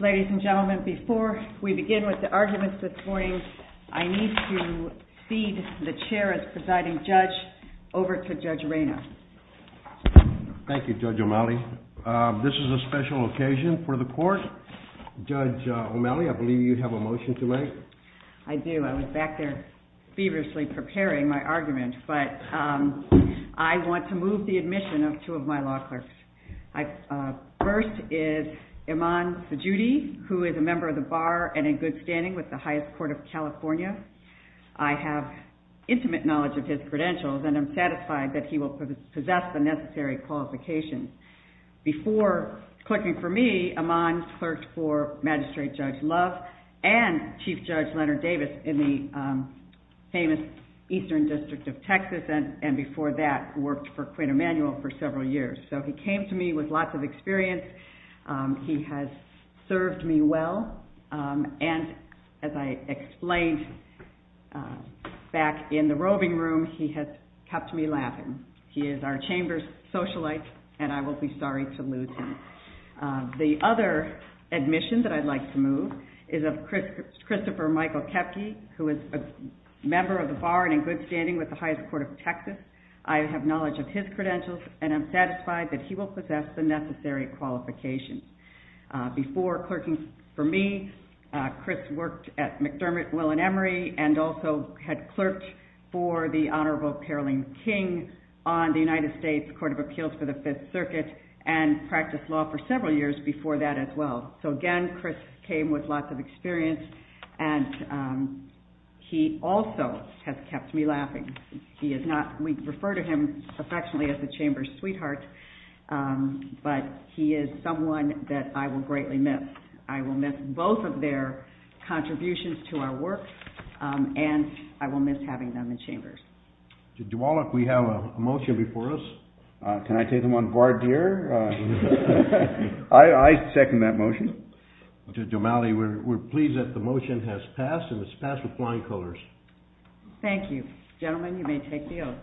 Ladies and gentlemen, before we begin with the arguments this morning, I need to feed the chair as presiding judge over to Judge Reina. Thank you, Judge O'Malley. This is a special occasion for the court. Judge O'Malley, I believe you have a motion to make. I do. I was back there feverishly preparing my argument, but I want to move the admission of two of my law clerks. First is Iman Sejudi, who is a member of the Bar and in good standing with the highest court of California. I have intimate knowledge of his credentials, and I'm satisfied that he will possess the necessary qualifications. Before clerking for me, Iman clerked for Magistrate Judge Love and Chief Judge Leonard Davis in the famous Eastern District of Texas, and before that worked for Quinn Emanuel for several years. So he came to me with lots of experience. He has served me well, and as I explained back in the roving room, he has kept me laughing. He is our chamber's socialite, and I will be sorry to lose him. The other admission that I'd like to move is of Christopher Michael Koepke, who is a member of the Bar and in good standing with the highest court of Texas. I have knowledge of his credentials, and I'm satisfied that he will possess the necessary qualifications. Before clerking for me, Chris worked at McDermott, Will and Emery, and also had clerked for the Honorable Caroline King on the United States Court of Appeals for the Fifth Circuit, and practiced law for several years before that as well. So again, Chris came with lots of experience, and he also has kept me laughing. We refer to him affectionately as the chamber's sweetheart, but he is someone that I will greatly miss. I will miss both of their contributions to our work, and I will miss having them in chambers. To Dwalik, we have a motion before us. Can I take them on guard here? I second that motion. To Domali, we're pleased that the motion has passed, and it's passed with flying colors. Thank you. Gentlemen, you may take the oath.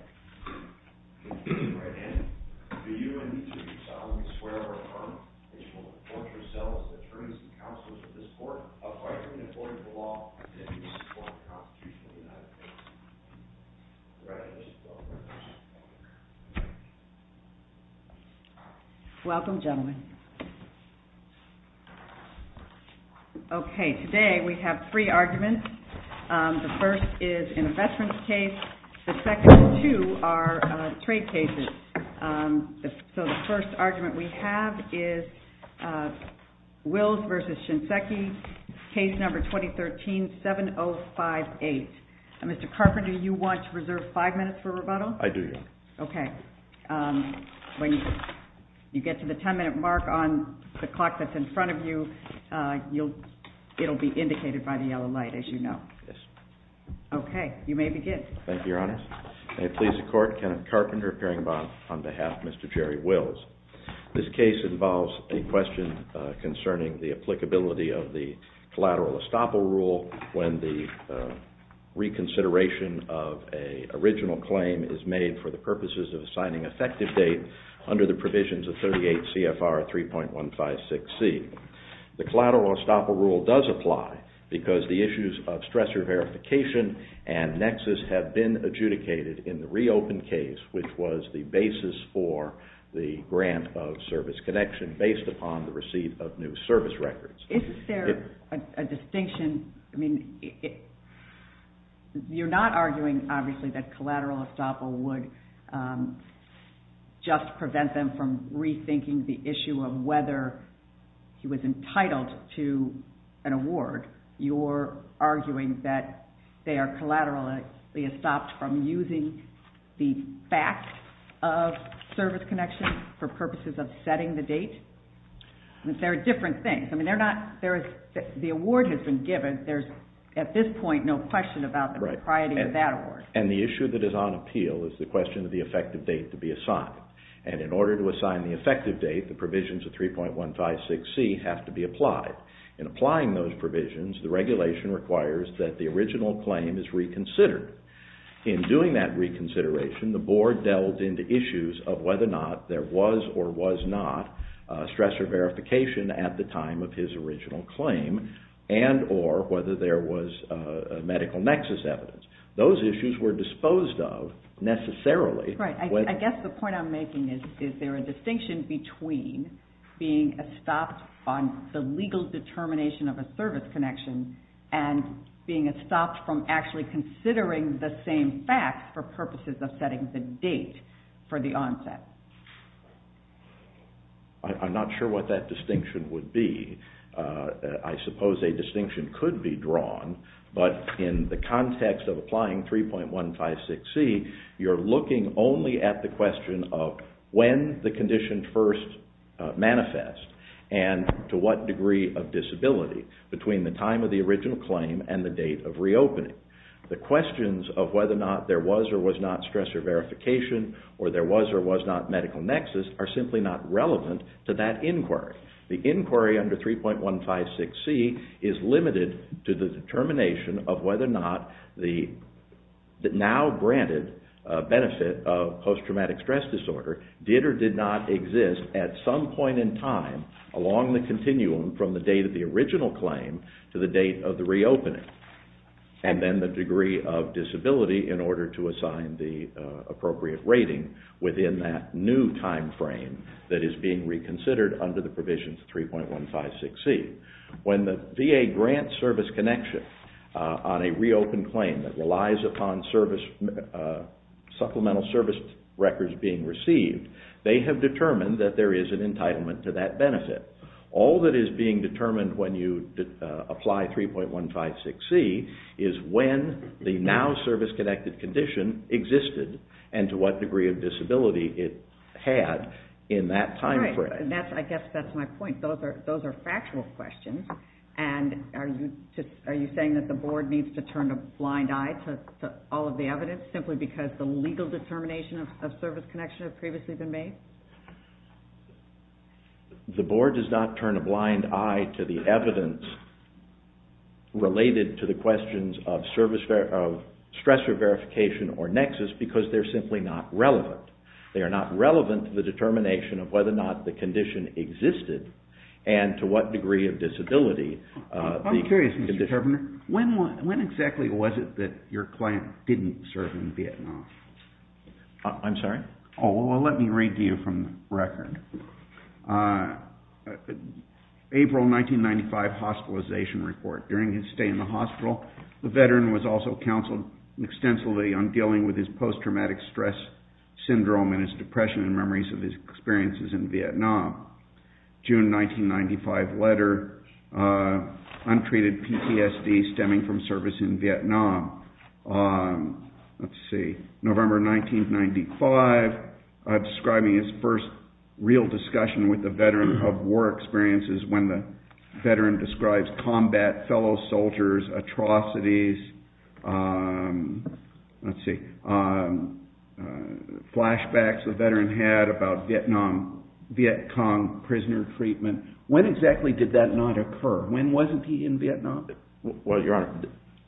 Welcome, gentlemen. Okay, today we have three arguments. The first is an investment case. The second two are trade cases. So the first argument we have is Wills v. Shinseki, case number 2013-7058. Mr. Carpenter, do you want to reserve five minutes for rebuttal? I do, Your Honor. Okay. When you get to the ten-minute mark on the clock that's in front of you, it'll be indicated by the yellow light, as you know. Yes. Okay. You may begin. Thank you, Your Honor. May it please the Court, Kenneth Carpenter, appearing on behalf of Mr. Jerry Wills. This case involves a question concerning the applicability of the collateral estoppel rule when the reconsideration of an original claim is made for the purposes of assigning effective date under the provisions of 38 CFR 3.156C. The collateral estoppel rule does apply because the issues of stressor verification and nexus have been adjudicated in the reopen case, which was the basis for the grant of service connection based upon the receipt of new service records. Is there a distinction? I mean, you're not arguing, obviously, that collateral estoppel would just prevent them from rethinking the issue of whether he was entitled to an award. You're arguing that they are collaterally estopped from using the fact of service connection for purposes of setting the date? There are different things. I mean, the award has been given. There's, at this point, no question about the propriety of that award. And the issue that is on appeal is the question of the effective date to be assigned. And in order to assign the effective date, the provisions of 3.156C have to be applied. In applying those provisions, the regulation requires that the original claim is reconsidered. In doing that reconsideration, the board delved into issues of whether or not there was or was not stressor verification at the time of his original claim and or whether there was medical nexus evidence. Those issues were disposed of necessarily. Right. I guess the point I'm making is, is there a distinction between being estopped on the legal determination of a service connection and being estopped from actually considering the same facts for purposes of setting the date for the onset? I'm not sure what that distinction would be. I suppose a distinction could be drawn, but in the context of applying 3.156C, you're looking only at the question of when the condition first manifests and to what degree of disability. Between the time of the original claim and the date of reopening. The questions of whether or not there was or was not stressor verification or there was or was not medical nexus are simply not relevant to that inquiry. The inquiry under 3.156C is limited to the determination of whether or not the now granted benefit of post-traumatic stress disorder did or did not exist at some point in time along the continuum from the date of the original claim to the date of the reopening. And then the degree of disability in order to assign the appropriate rating within that new time frame that is being reconsidered under the provisions of 3.156C. When the VA grants service connection on a reopened claim that relies upon supplemental service records being received, they have determined that there is an entitlement to that benefit. All that is being determined when you apply 3.156C is when the now service-connected condition existed and to what degree of disability it had in that time frame. I guess that is my point. Those are factual questions. Are you saying that the board needs to turn a blind eye to all of the evidence simply because the legal determination of service connection has previously been made? The board does not turn a blind eye to the evidence related to the questions of stressor verification or nexus because they are simply not relevant. They are not relevant to the determination of whether or not the condition existed and to what degree of disability. I'm curious, Mr. Turbiner. When exactly was it that your client didn't serve in Vietnam? I'm sorry? Oh, well, let me read to you from the record. April 1995 hospitalization report. During his stay in the hospital, the veteran was also counseled extensively on dealing with his post-traumatic stress syndrome and his depression and memories of his experiences in Vietnam. June 1995 letter, untreated PTSD stemming from service in Vietnam. Let's see. November 1995, describing his first real discussion with the veteran of war experiences when the veteran describes combat, fellow soldiers, atrocities, let's see, flashbacks the veteran had about Vietnam, Viet Cong prisoner treatment. When exactly did that not occur? When wasn't he in Vietnam? Well, your honor,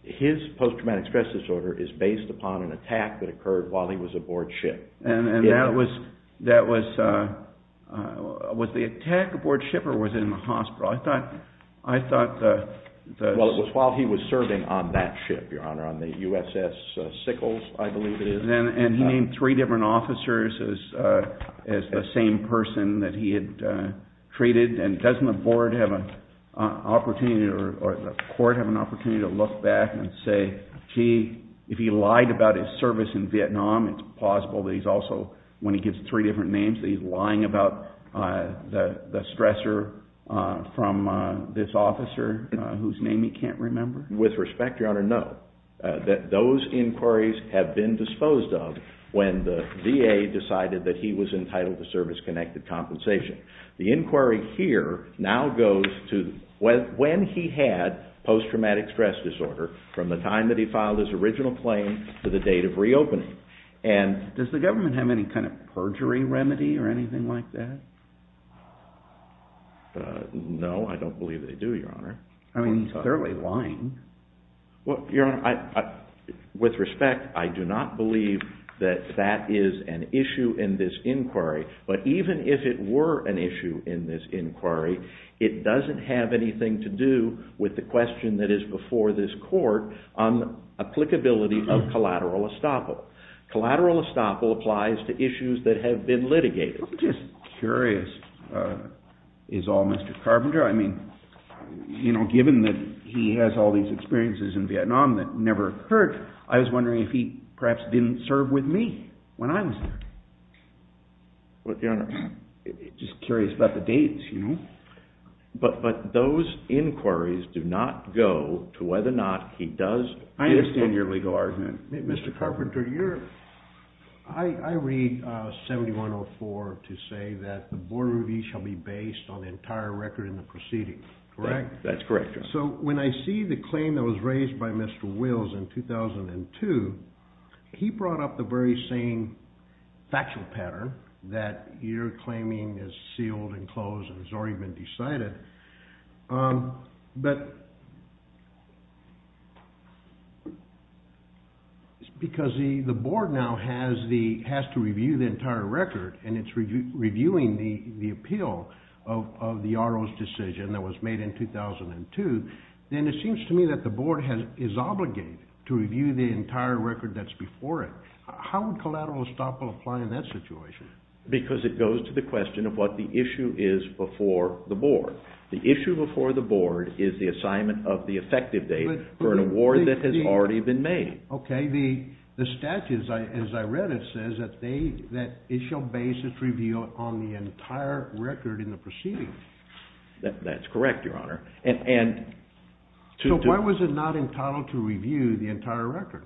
his post-traumatic stress disorder is based upon an attack that occurred while he was aboard ship. And that was, that was, was the attack aboard ship or was it in the hospital? I thought, I thought the... Well, it was while he was serving on that ship, your honor, on the USS Sickles, I believe it is. And he named three different officers as the same person that he had treated. And doesn't the board have an opportunity or the court have an opportunity to look back and say, gee, if he lied about his service in Vietnam, it's possible that he's also, when he gives three different names, that he's lying about the stressor from this officer whose name he can't remember? With respect, your honor, no. Those inquiries have been disposed of when the VA decided that he was entitled to service-connected compensation. The inquiry here now goes to when he had post-traumatic stress disorder from the time that he filed his original claim to the date of reopening. And does the government have any kind of perjury remedy or anything like that? No, I don't believe they do, your honor. I mean, he's clearly lying. Well, your honor, with respect, I do not believe that that is an issue in this inquiry. But even if it were an issue in this inquiry, it doesn't have anything to do with the question that is before this court on applicability of collateral estoppel. Collateral estoppel applies to issues that have been litigated. I'm just curious, is all Mr. Carpenter? I mean, you know, given that he has all these experiences in Vietnam that never occurred, I was wondering if he perhaps didn't serve with me when I was there. What, your honor? Just curious about the dates, you know? But those inquiries do not go to whether or not he does. I understand your legal argument, Mr. Carpenter. I read 7104 to say that the board review shall be based on the entire record in the proceeding, correct? That's correct, your honor. So when I see the claim that was raised by Mr. Wills in 2002, he brought up the very same factual pattern that you're claiming is sealed and closed and has already been decided. But because the board now has to review the entire record and it's reviewing the appeal of the RO's decision that was made in 2002, then it seems to me that the board is obligated to review the entire record that's before it. How would collateral estoppel apply in that situation? Because it goes to the question of what the issue is before the board. The issue before the board is the assignment of the effective date for an award that has already been made. Okay, the statute, as I read it, says that it shall base its review on the entire record in the proceeding. That's correct, your honor. So why was it not entitled to review the entire record?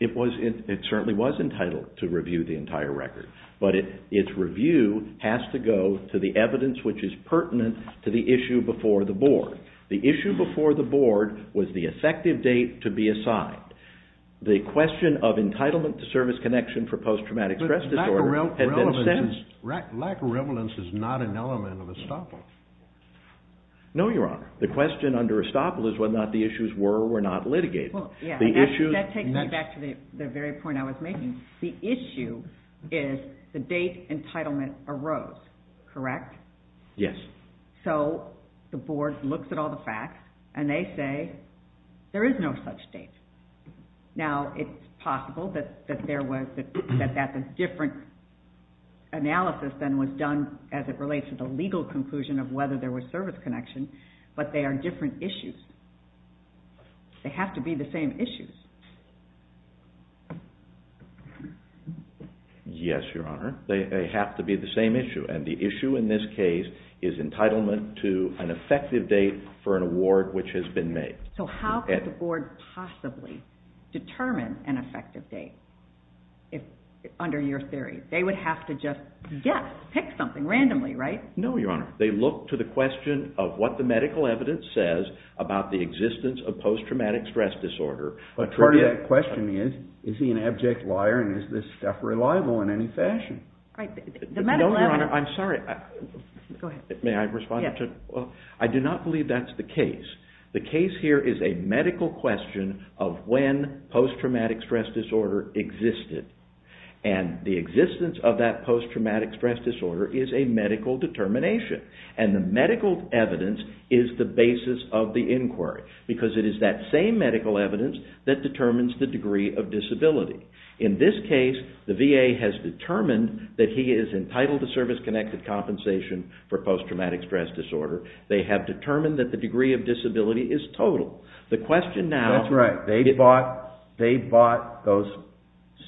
It certainly was entitled to review the entire record, but its review has to go to the evidence which is pertinent to the issue before the board. The issue before the board was the effective date to be assigned. The question of entitlement to service connection for post-traumatic stress disorder had been set. But lack of relevance is not an element of estoppel. No, your honor. The question under estoppel is whether or not the issues were or were not litigated. That takes me back to the very point I was making. The issue is the date entitlement arose, correct? Yes. So the board looks at all the facts and they say there is no such date. Now, it's possible that that's a different analysis than was done as it relates to the legal conclusion of whether there was service connection, but they are different issues. They have to be the same issues. Yes, your honor. They have to be the same issue. And the issue in this case is entitlement to an effective date for an award which has been made. So how could the board possibly determine an effective date under your theory? They would have to just guess, pick something randomly, right? No, your honor. They look to the question of what the medical evidence says about the existence of post-traumatic stress disorder. But part of that question is, is he an abject liar and is this stuff reliable in any fashion? No, your honor. I'm sorry. Go ahead. May I respond? Yes. I do not believe that's the case. The case here is a medical question of when post-traumatic stress disorder existed. And the existence of that post-traumatic stress disorder is a medical determination. And the medical evidence is the basis of the inquiry because it is that same medical evidence that determines the degree of disability. In this case, the VA has determined that he is entitled to service-connected compensation for post-traumatic stress disorder. They have determined that the degree of disability is total. That's right. They bought those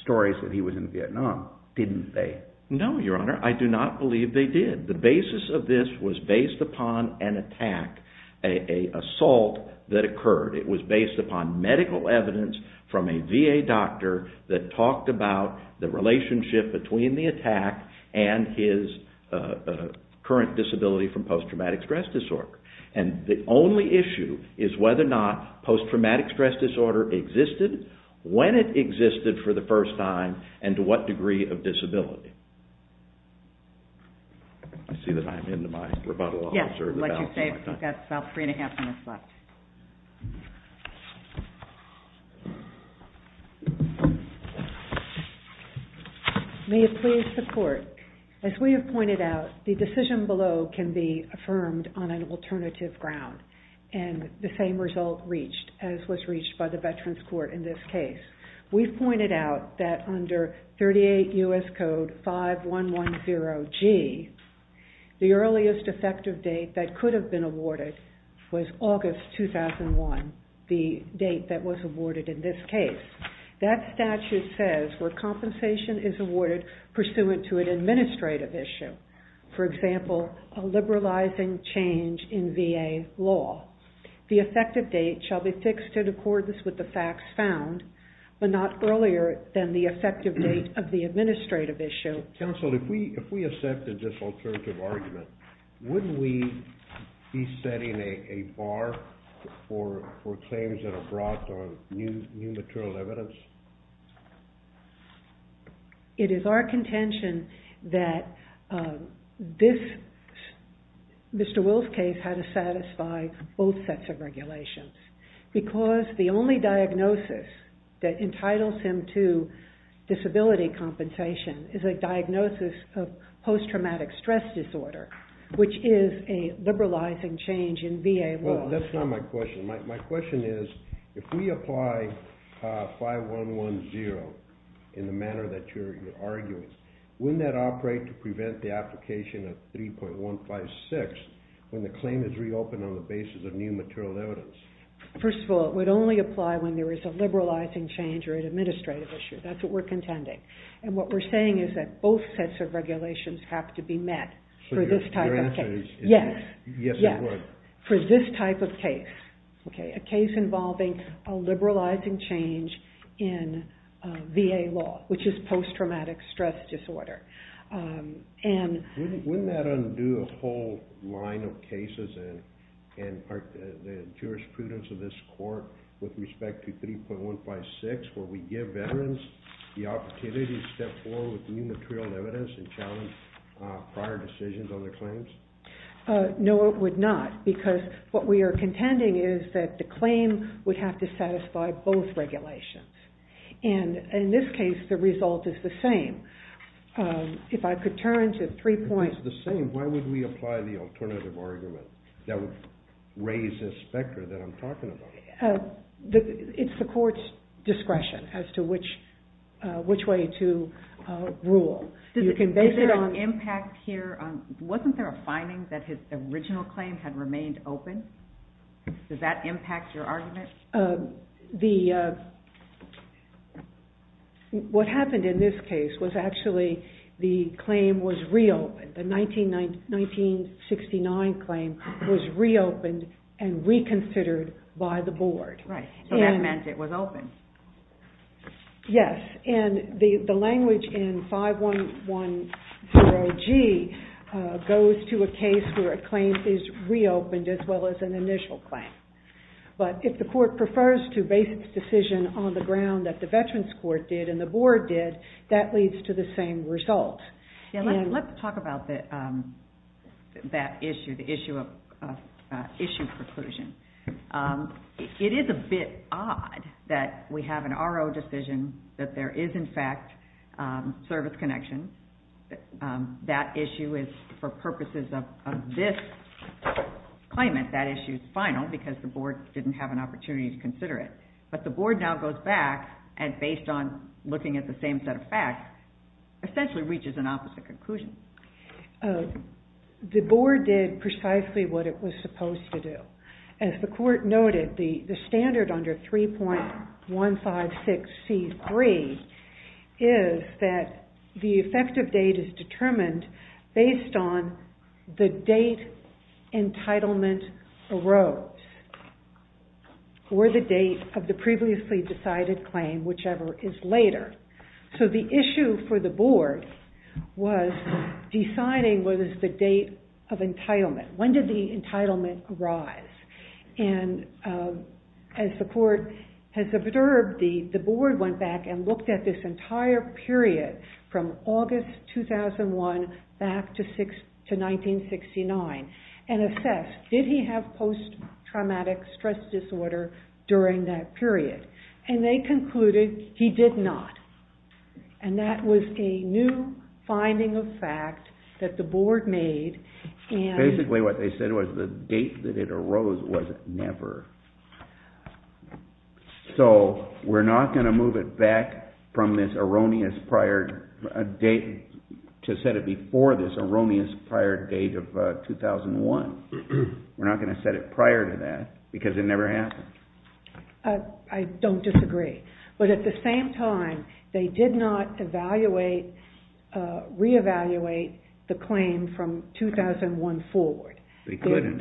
stories that he was in Vietnam, didn't they? No, your honor. I do not believe they did. The basis of this was based upon an attack, an assault that occurred. It was based upon medical evidence from a VA doctor that talked about the relationship between the attack and his current disability from post-traumatic stress disorder. And the only issue is whether or not post-traumatic stress disorder existed, when it existed for the first time, and to what degree of disability. I see that I am into my rebuttal. Yes. I'll let you say it. We've got about three and a half minutes left. May it please the court. As we have pointed out, the decision below can be affirmed on an alternative ground, and the same result reached as was reached by the Veterans Court in this case. We've pointed out that under 38 U.S. Code 5110G, the earliest effective date that could have been awarded was August 2001, the date that was awarded in this case. That statute says where compensation is awarded pursuant to an administrative issue, for example, a liberalizing change in VA law. The effective date shall be fixed in accordance with the facts found, but not earlier than the effective date of the administrative issue. Counsel, if we accepted this alternative argument, wouldn't we be setting a bar for claims that are brought on new material evidence? It is our contention that this, Mr. Will's case, had to satisfy both sets of regulations, because the only diagnosis that entitles him to disability compensation is a diagnosis of post-traumatic stress disorder, which is a liberalizing change in VA law. That's not my question. My question is, if we apply 5110 in the manner that you're arguing, wouldn't that operate to prevent the application of 3.156 when the claim is reopened on the basis of new material evidence? First of all, it would only apply when there is a liberalizing change or an administrative issue. That's what we're contending. What we're saying is that both sets of regulations have to be met for this type of case. Your answer is, yes, it would. Yes, for this type of case. A case involving a liberalizing change in VA law, which is post-traumatic stress disorder. Wouldn't that undo a whole line of cases in the jurisprudence of this court with respect to 3.156, where we give veterans the opportunity to step forward with new material evidence and challenge prior decisions on their claims? No, it would not, because what we are contending is that the claim would have to satisfy both regulations. In this case, the result is the same. If I could turn to 3.156. If it's the same, why would we apply the alternative argument that would raise the specter that I'm talking about? It's the court's discretion as to which way to rule. Wasn't there a finding that his original claim had remained open? Does that impact your argument? What happened in this case was actually the claim was reopened. The 1969 claim was reopened and reconsidered by the board. Right, so that meant it was open. Yes, and the language in 5110G goes to a case where a claim is reopened as well as an initial claim. But if the court prefers to base its decision on the ground that the Veterans Court did and the board did, that leads to the same result. Let's talk about that issue, the issue of issue preclusion. It is a bit odd that we have an RO decision that there is, in fact, service connection. That issue is, for purposes of this claimant, that issue is final because the board didn't have an opportunity to consider it. But the board now goes back and, based on looking at the same set of facts, essentially reaches an opposite conclusion. The board did precisely what it was supposed to do. As the court noted, the standard under 3.156C3 is that the effective date is determined based on the date entitlement arose or the date of the previously decided claim, whichever is later. So the issue for the board was deciding whether it was the date of entitlement. When did the entitlement arise? As the court has observed, the board went back and looked at this entire period from August 2001 back to 1969 and assessed, did he have post-traumatic stress disorder during that period? And they concluded he did not. And that was a new finding of fact that the board made. Basically what they said was the date that it arose was never. So we're not going to move it back from this erroneous prior date to set it before this erroneous prior date of 2001. We're not going to set it prior to that because it never happened. I don't disagree. But at the same time, they did not reevaluate the claim from 2001 forward. They couldn't.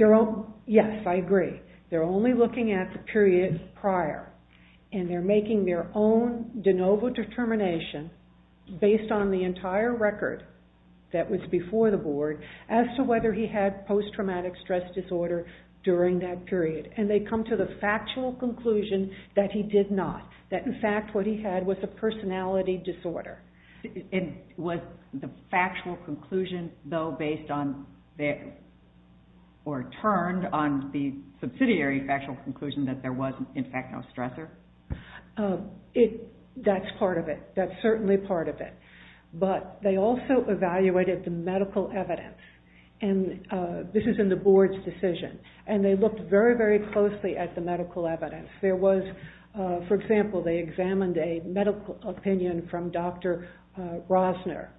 Yes, I agree. They're only looking at the period prior, and they're making their own de novo determination based on the entire record that was before the board as to whether he had post-traumatic stress disorder during that period. And they come to the factual conclusion that he did not. That, in fact, what he had was a personality disorder. Was the factual conclusion, though, based on or turned on the subsidiary factual conclusion that there was, in fact, no stressor? That's part of it. That's certainly part of it. But they also evaluated the medical evidence. And this is in the board's decision. And they looked very, very closely at the medical evidence. There was, for example, they examined a medical opinion from Dr. Rosner.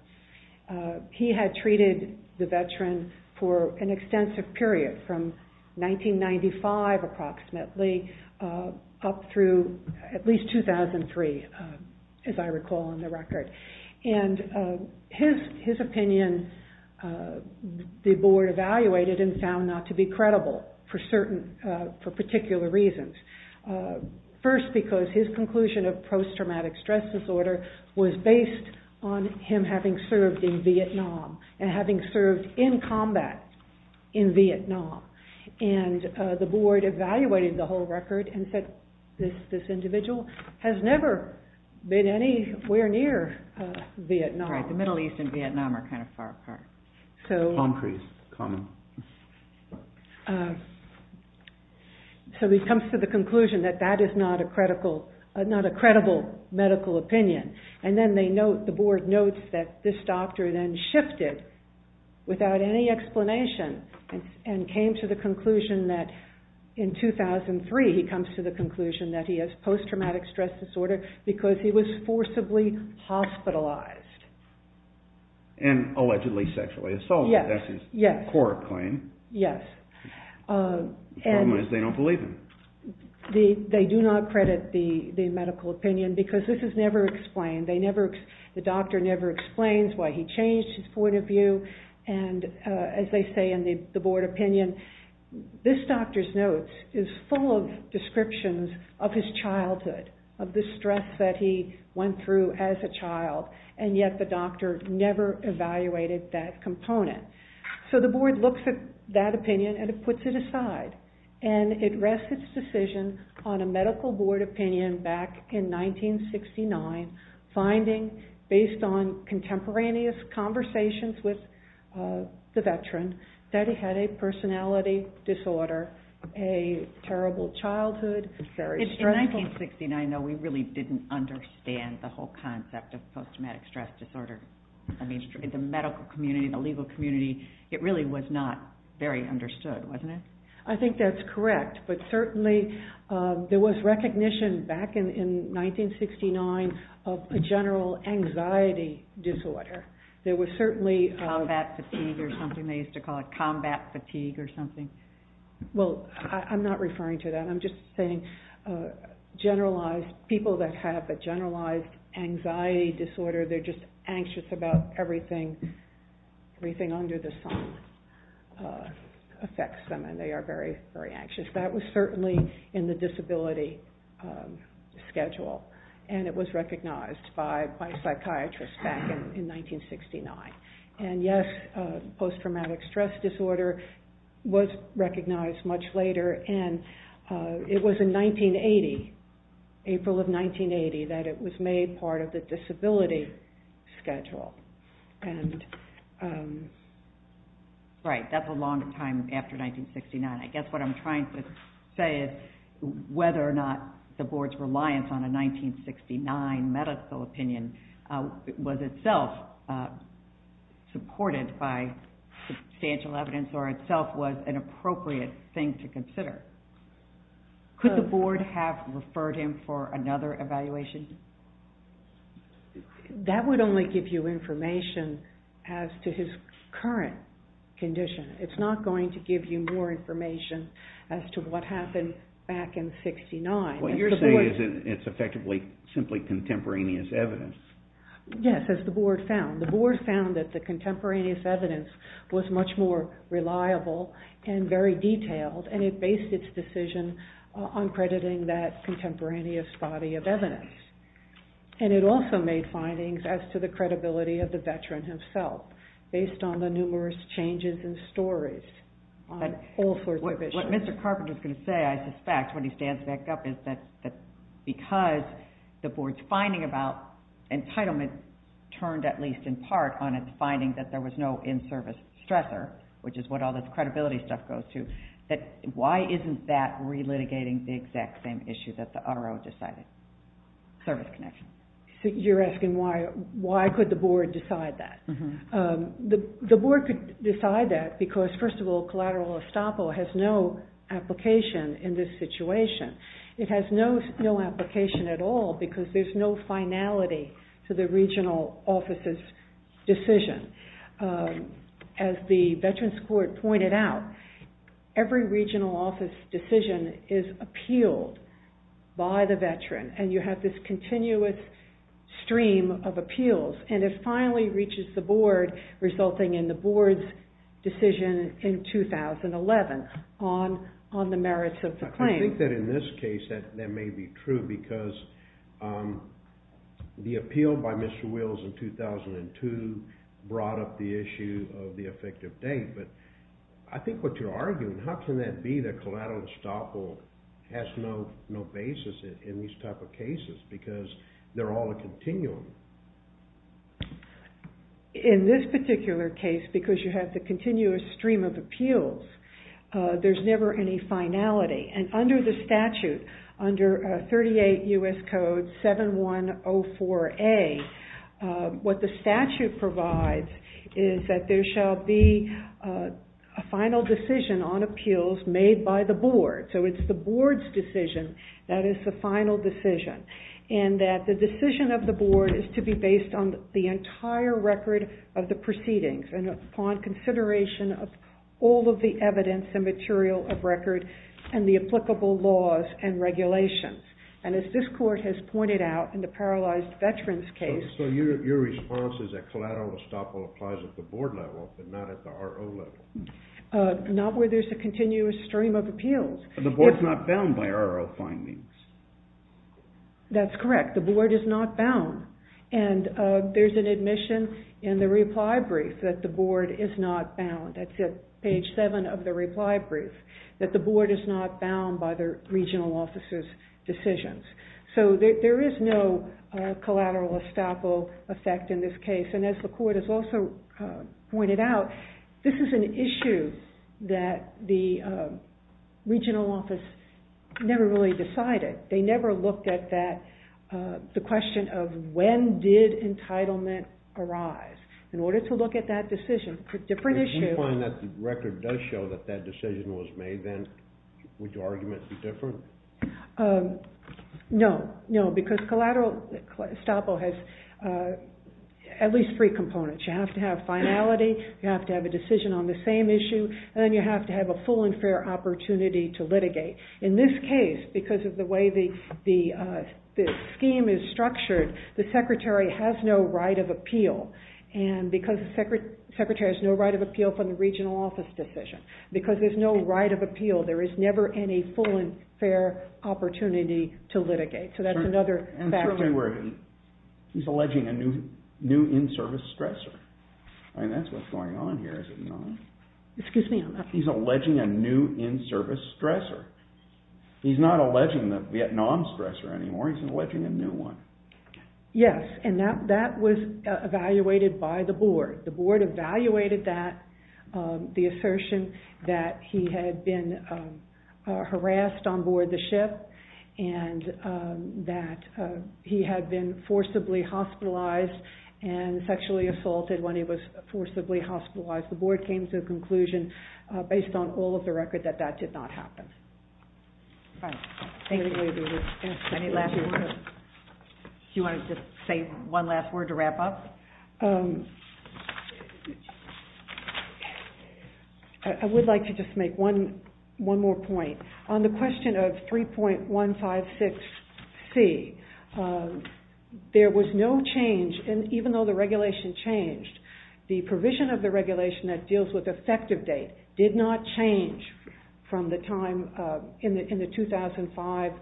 He had treated the veteran for an extensive period from 1995 approximately up through at least 2003, as I recall in the record. And his opinion, the board evaluated and found not to be credible for particular reasons. First, because his conclusion of post-traumatic stress disorder was based on him having served in Vietnam and having served in combat in Vietnam. And the board evaluated the whole record and said, this individual has never been anywhere near Vietnam. Right, the Middle East and Vietnam are kind of far apart. So he comes to the conclusion that that is not a credible medical opinion. And then the board notes that this doctor then shifted without any explanation and came to the conclusion that in 2003 he comes to the conclusion that he has post-traumatic stress disorder because he was forcibly hospitalized. And allegedly sexually assaulted, that's his core claim. Yes. Problem is they don't believe him. They do not credit the medical opinion because this is never explained. The doctor never explains why he changed his point of view. And as they say in the board opinion, this doctor's notes is full of descriptions of his childhood, of the stress that he went through as a child. And yet the doctor never evaluated that component. So the board looks at that opinion and it puts it aside. And it rests its decision on a medical board opinion back in 1969 finding based on contemporaneous conversations with the veteran that he had a personality disorder, a terrible childhood, very stressful. In 1969, though, we really didn't understand the whole concept of post-traumatic stress disorder. In the medical community, the legal community, it really was not very understood, wasn't it? I think that's correct. But certainly there was recognition back in 1969 of a general anxiety disorder. Combat fatigue or something. They used to call it combat fatigue or something. Well, I'm not referring to that. I'm just saying people that have a generalized anxiety disorder, they're just anxious about everything under the sun affects them and they are very, very anxious. That was certainly in the disability schedule and it was recognized by psychiatrists back in 1969. And yes, post-traumatic stress disorder was recognized much later and it was in 1980, April of 1980, that it was made part of the disability schedule. Right, that's a long time after 1969. I guess what I'm trying to say is whether or not the Board's reliance on a 1969 medical opinion was itself supported by substantial evidence or itself was an appropriate thing to consider. Could the Board have referred him for another evaluation? That would only give you information as to his current condition. It's not going to give you more information as to what happened back in 1969. What you're saying is it's effectively simply contemporaneous evidence. Yes, as the Board found. The Board found that the contemporaneous evidence was much more reliable and very detailed and it based its decision on crediting that contemporaneous body of evidence. And it also made findings as to the credibility of the veteran himself based on the numerous changes in stories on all sorts of issues. What Mr. Carpenter is going to say, I suspect, when he stands back up, is that because the Board's finding about entitlement turned at least in part on its finding that there was no in-service stressor, which is what all this credibility stuff goes to, that why isn't that relitigating the exact same issue that the RO decided, service connection? You're asking why could the Board decide that? The Board could decide that because, first of all, collateral estoppel has no application in this situation. It has no application at all because there's no finality to the regional office's decision. As the Veterans Court pointed out, every regional office decision is appealed by the veteran and you have this continuous stream of appeals. And it finally reaches the Board, resulting in the Board's decision in 2011 on the merits of the claim. I think that in this case that may be true because the appeal by Mr. Wills in 2002 brought up the issue of the effective date. But I think what you're arguing, how can that be that collateral estoppel has no basis in these type of cases because they're all a continuum? In this particular case, because you have the continuous stream of appeals, there's never any finality. And under the statute, under 38 U.S. Code 7104A, what the statute provides is that there shall be a final decision on appeals made by the Board. So it's the Board's decision that is the final decision. And that the decision of the Board is to be based on the entire record of the proceedings and upon consideration of all of the evidence and material of record and the applicable laws and regulations. And as this Court has pointed out in the paralyzed veterans case... So your response is that collateral estoppel applies at the Board level but not at the RO level. Not where there's a continuous stream of appeals. The Board's not bound by RO findings. That's correct. The Board is not bound. And there's an admission in the reply brief that the Board is not bound. That's at page 7 of the reply brief. That the Board is not bound by the Regional Office's decisions. So there is no collateral estoppel effect in this case. And as the Court has also pointed out, this is an issue that the Regional Office never really decided. They never looked at the question of when did entitlement arise. In order to look at that decision, a different issue... If you find that the record does show that that decision was made, then would your argument be different? No. No, because collateral estoppel has at least three components. You have to have finality, you have to have a decision on the same issue, In this case, because of the way the scheme is structured, the Secretary has no right of appeal. And because the Secretary has no right of appeal from the Regional Office decision, because there's no right of appeal, there is never any full and fair opportunity to litigate. So that's another factor. He's alleging a new in-service stressor. I mean, that's what's going on here, is it not? He's alleging a new in-service stressor. He's not alleging the Vietnam stressor anymore, he's alleging a new one. Yes, and that was evaluated by the Board. The Board evaluated the assertion that he had been harassed on board the ship and that he had been forcibly hospitalized and sexually assaulted when he was forcibly hospitalized. The Board came to a conclusion, based on all of the record, that that did not happen. Any last words? Do you want to just say one last word to wrap up? I would like to just make one more point. On the question of 3.156C, there was no change, and even though the regulation changed, the provision of the regulation that deals with effective date did not change from the time in the 2005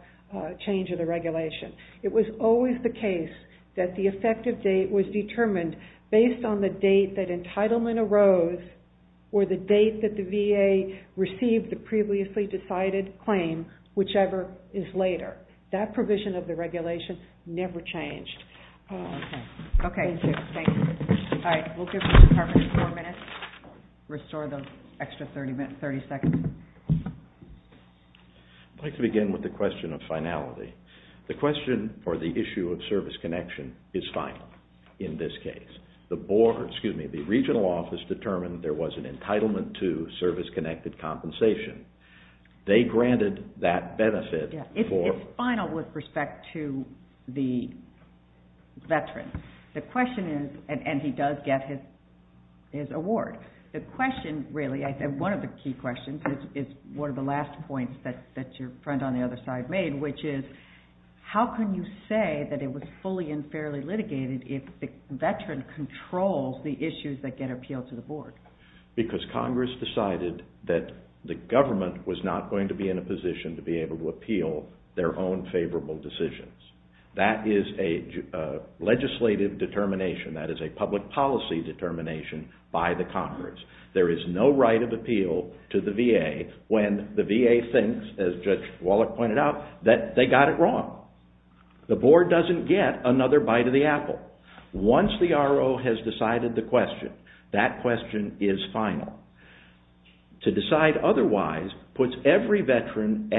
change of the regulation. It was always the case that the effective date was determined based on the date that entitlement arose or the date that the VA received the previously decided claim, whichever is later. That provision of the regulation never changed. Okay, thank you. All right, we'll give the department four minutes. Restore the extra 30 seconds. I'd like to begin with the question of finality. The question for the issue of service connection is final in this case. The Board, excuse me, the Regional Office, determined there was an entitlement to service-connected compensation. They granted that benefit for... The question is, and he does get his award. The question really, one of the key questions, is one of the last points that your friend on the other side made, which is how can you say that it was fully and fairly litigated if the veteran controls the issues that get appealed to the Board? Because Congress decided that the government was not going to be in a position to be able to appeal their own favorable decisions. That is a legislative determination. That is a public policy determination by the Congress. There is no right of appeal to the VA when the VA thinks, as Judge Wallach pointed out, that they got it wrong. The Board doesn't get another bite of the apple. Once the RO has decided the question, that question is final. To decide otherwise puts every veteran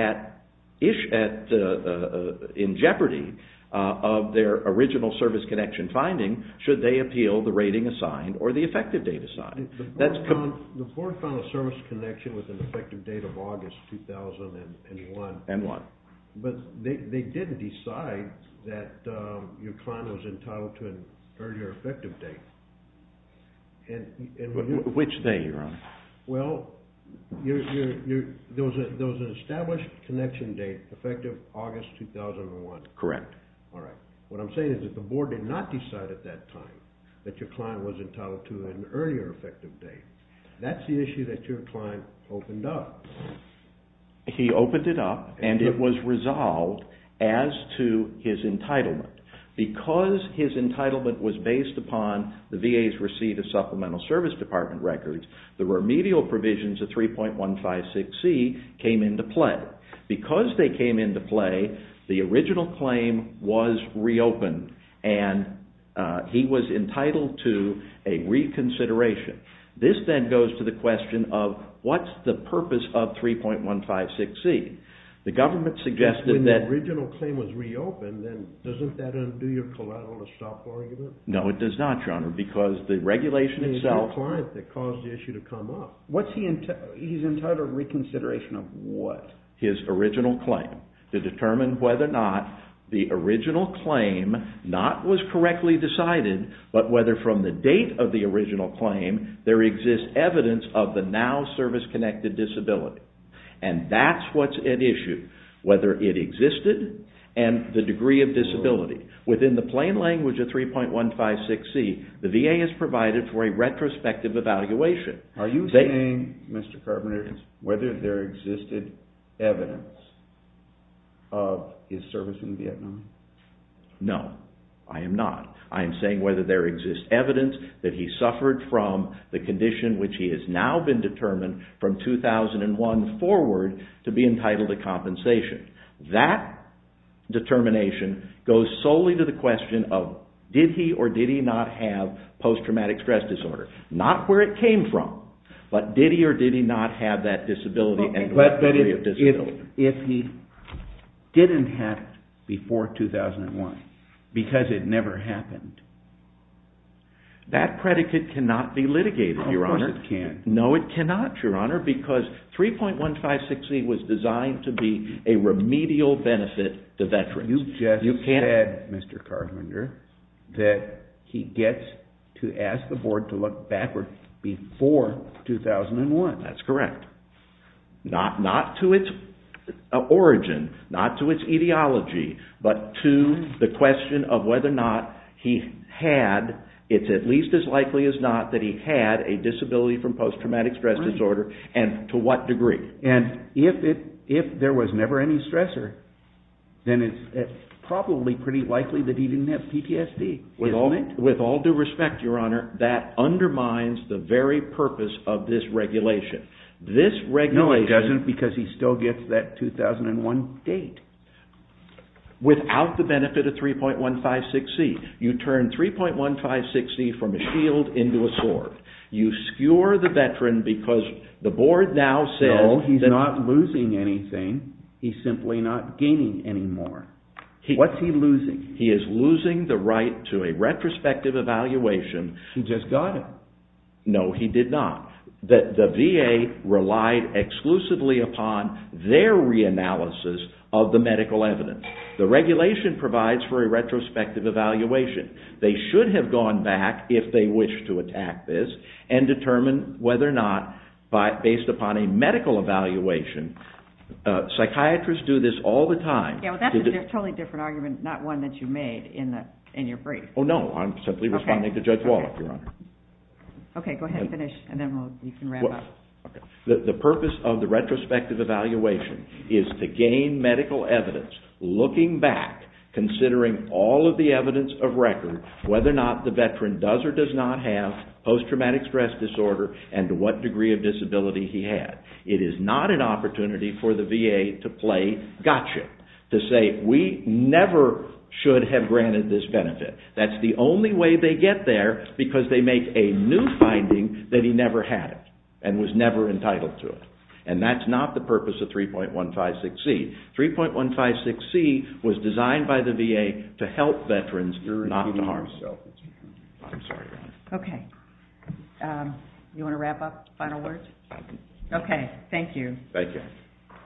in jeopardy of their original service connection finding should they appeal the rating assigned or the effective date assigned. The Board found a service connection with an effective date of August 2001. And what? But they didn't decide that your client was entitled to an earlier effective date. Which day, Your Honor? Well, there was an established connection date, effective August 2001. Correct. All right. What I'm saying is that the Board did not decide at that time that your client was entitled to an earlier effective date. That's the issue that your client opened up. He opened it up, and it was resolved as to his entitlement. Because his entitlement was based upon the VA's receipt of Supplemental Service Department records, the remedial provisions of 3.156C came into play. Because they came into play, the original claim was reopened, and he was entitled to a reconsideration. This then goes to the question of what's the purpose of 3.156C? When the original claim was reopened, then doesn't that undo your collateral-to-stop argument? No, it does not, Your Honor, because the regulation itself... It's your client that caused the issue to come up. He's entitled to reconsideration of what? His original claim, to determine whether or not the original claim not was correctly decided, but whether from the date of the original claim there exists evidence of the now service-connected disability. And that's what's at issue, whether it existed and the degree of disability. Within the plain language of 3.156C, the VA is provided for a retrospective evaluation. Are you saying, Mr. Carpenter, whether there existed evidence of his service in Vietnam? No, I am not. I am saying whether there exists evidence that he suffered from the condition which he has now been determined from 2001 forward to be entitled to compensation. That determination goes solely to the question of did he or did he not have post-traumatic stress disorder? Not where it came from, but did he or did he not have that disability? But if he didn't have it before 2001, because it never happened, that predicate cannot be litigated, Your Honor. Of course it can't. No, it cannot, Your Honor, because 3.156C was designed to be a remedial benefit to veterans. You just said, Mr. Carpenter, that he gets to ask the board to look backwards before 2001. That's correct. Not to its origin, not to its etiology, but to the question of whether or not he had, it's at least as likely as not, that he had a disability from post-traumatic stress disorder and to what degree. And if there was never any stressor, then it's probably pretty likely that he didn't have PTSD. With all due respect, Your Honor, that undermines the very purpose of this regulation. This regulation... No, it doesn't, because he still gets that 2001 date. Without the benefit of 3.156C. You turn 3.156C from a shield into a sword. You skewer the veteran because the board now says... No, he's not losing anything. He's simply not gaining anymore. What's he losing? He is losing the right to a retrospective evaluation He just got it. No, he did not. The VA relied exclusively upon their reanalysis of the medical evidence. The regulation provides for a retrospective evaluation. They should have gone back, if they wish to attack this, and determined whether or not, based upon a medical evaluation, psychiatrists do this all the time... That's a totally different argument, not one that you made in your brief. Oh, no, I'm simply responding to Judge Walloff, Your Honor. Okay, go ahead and finish, and then you can wrap up. The purpose of the retrospective evaluation is to gain medical evidence, looking back, considering all of the evidence of record, whether or not the veteran does or does not have post-traumatic stress disorder, and what degree of disability he had. It is not an opportunity for the VA to play gotcha, to say, we never should have granted this benefit. That's the only way they get there, because they make a new finding that he never had it, and was never entitled to it. And that's not the purpose of 3.156C. 3.156C was designed by the VA to help veterans, not harm them. Okay, you want to wrap up, final words? Okay, thank you. Thank you.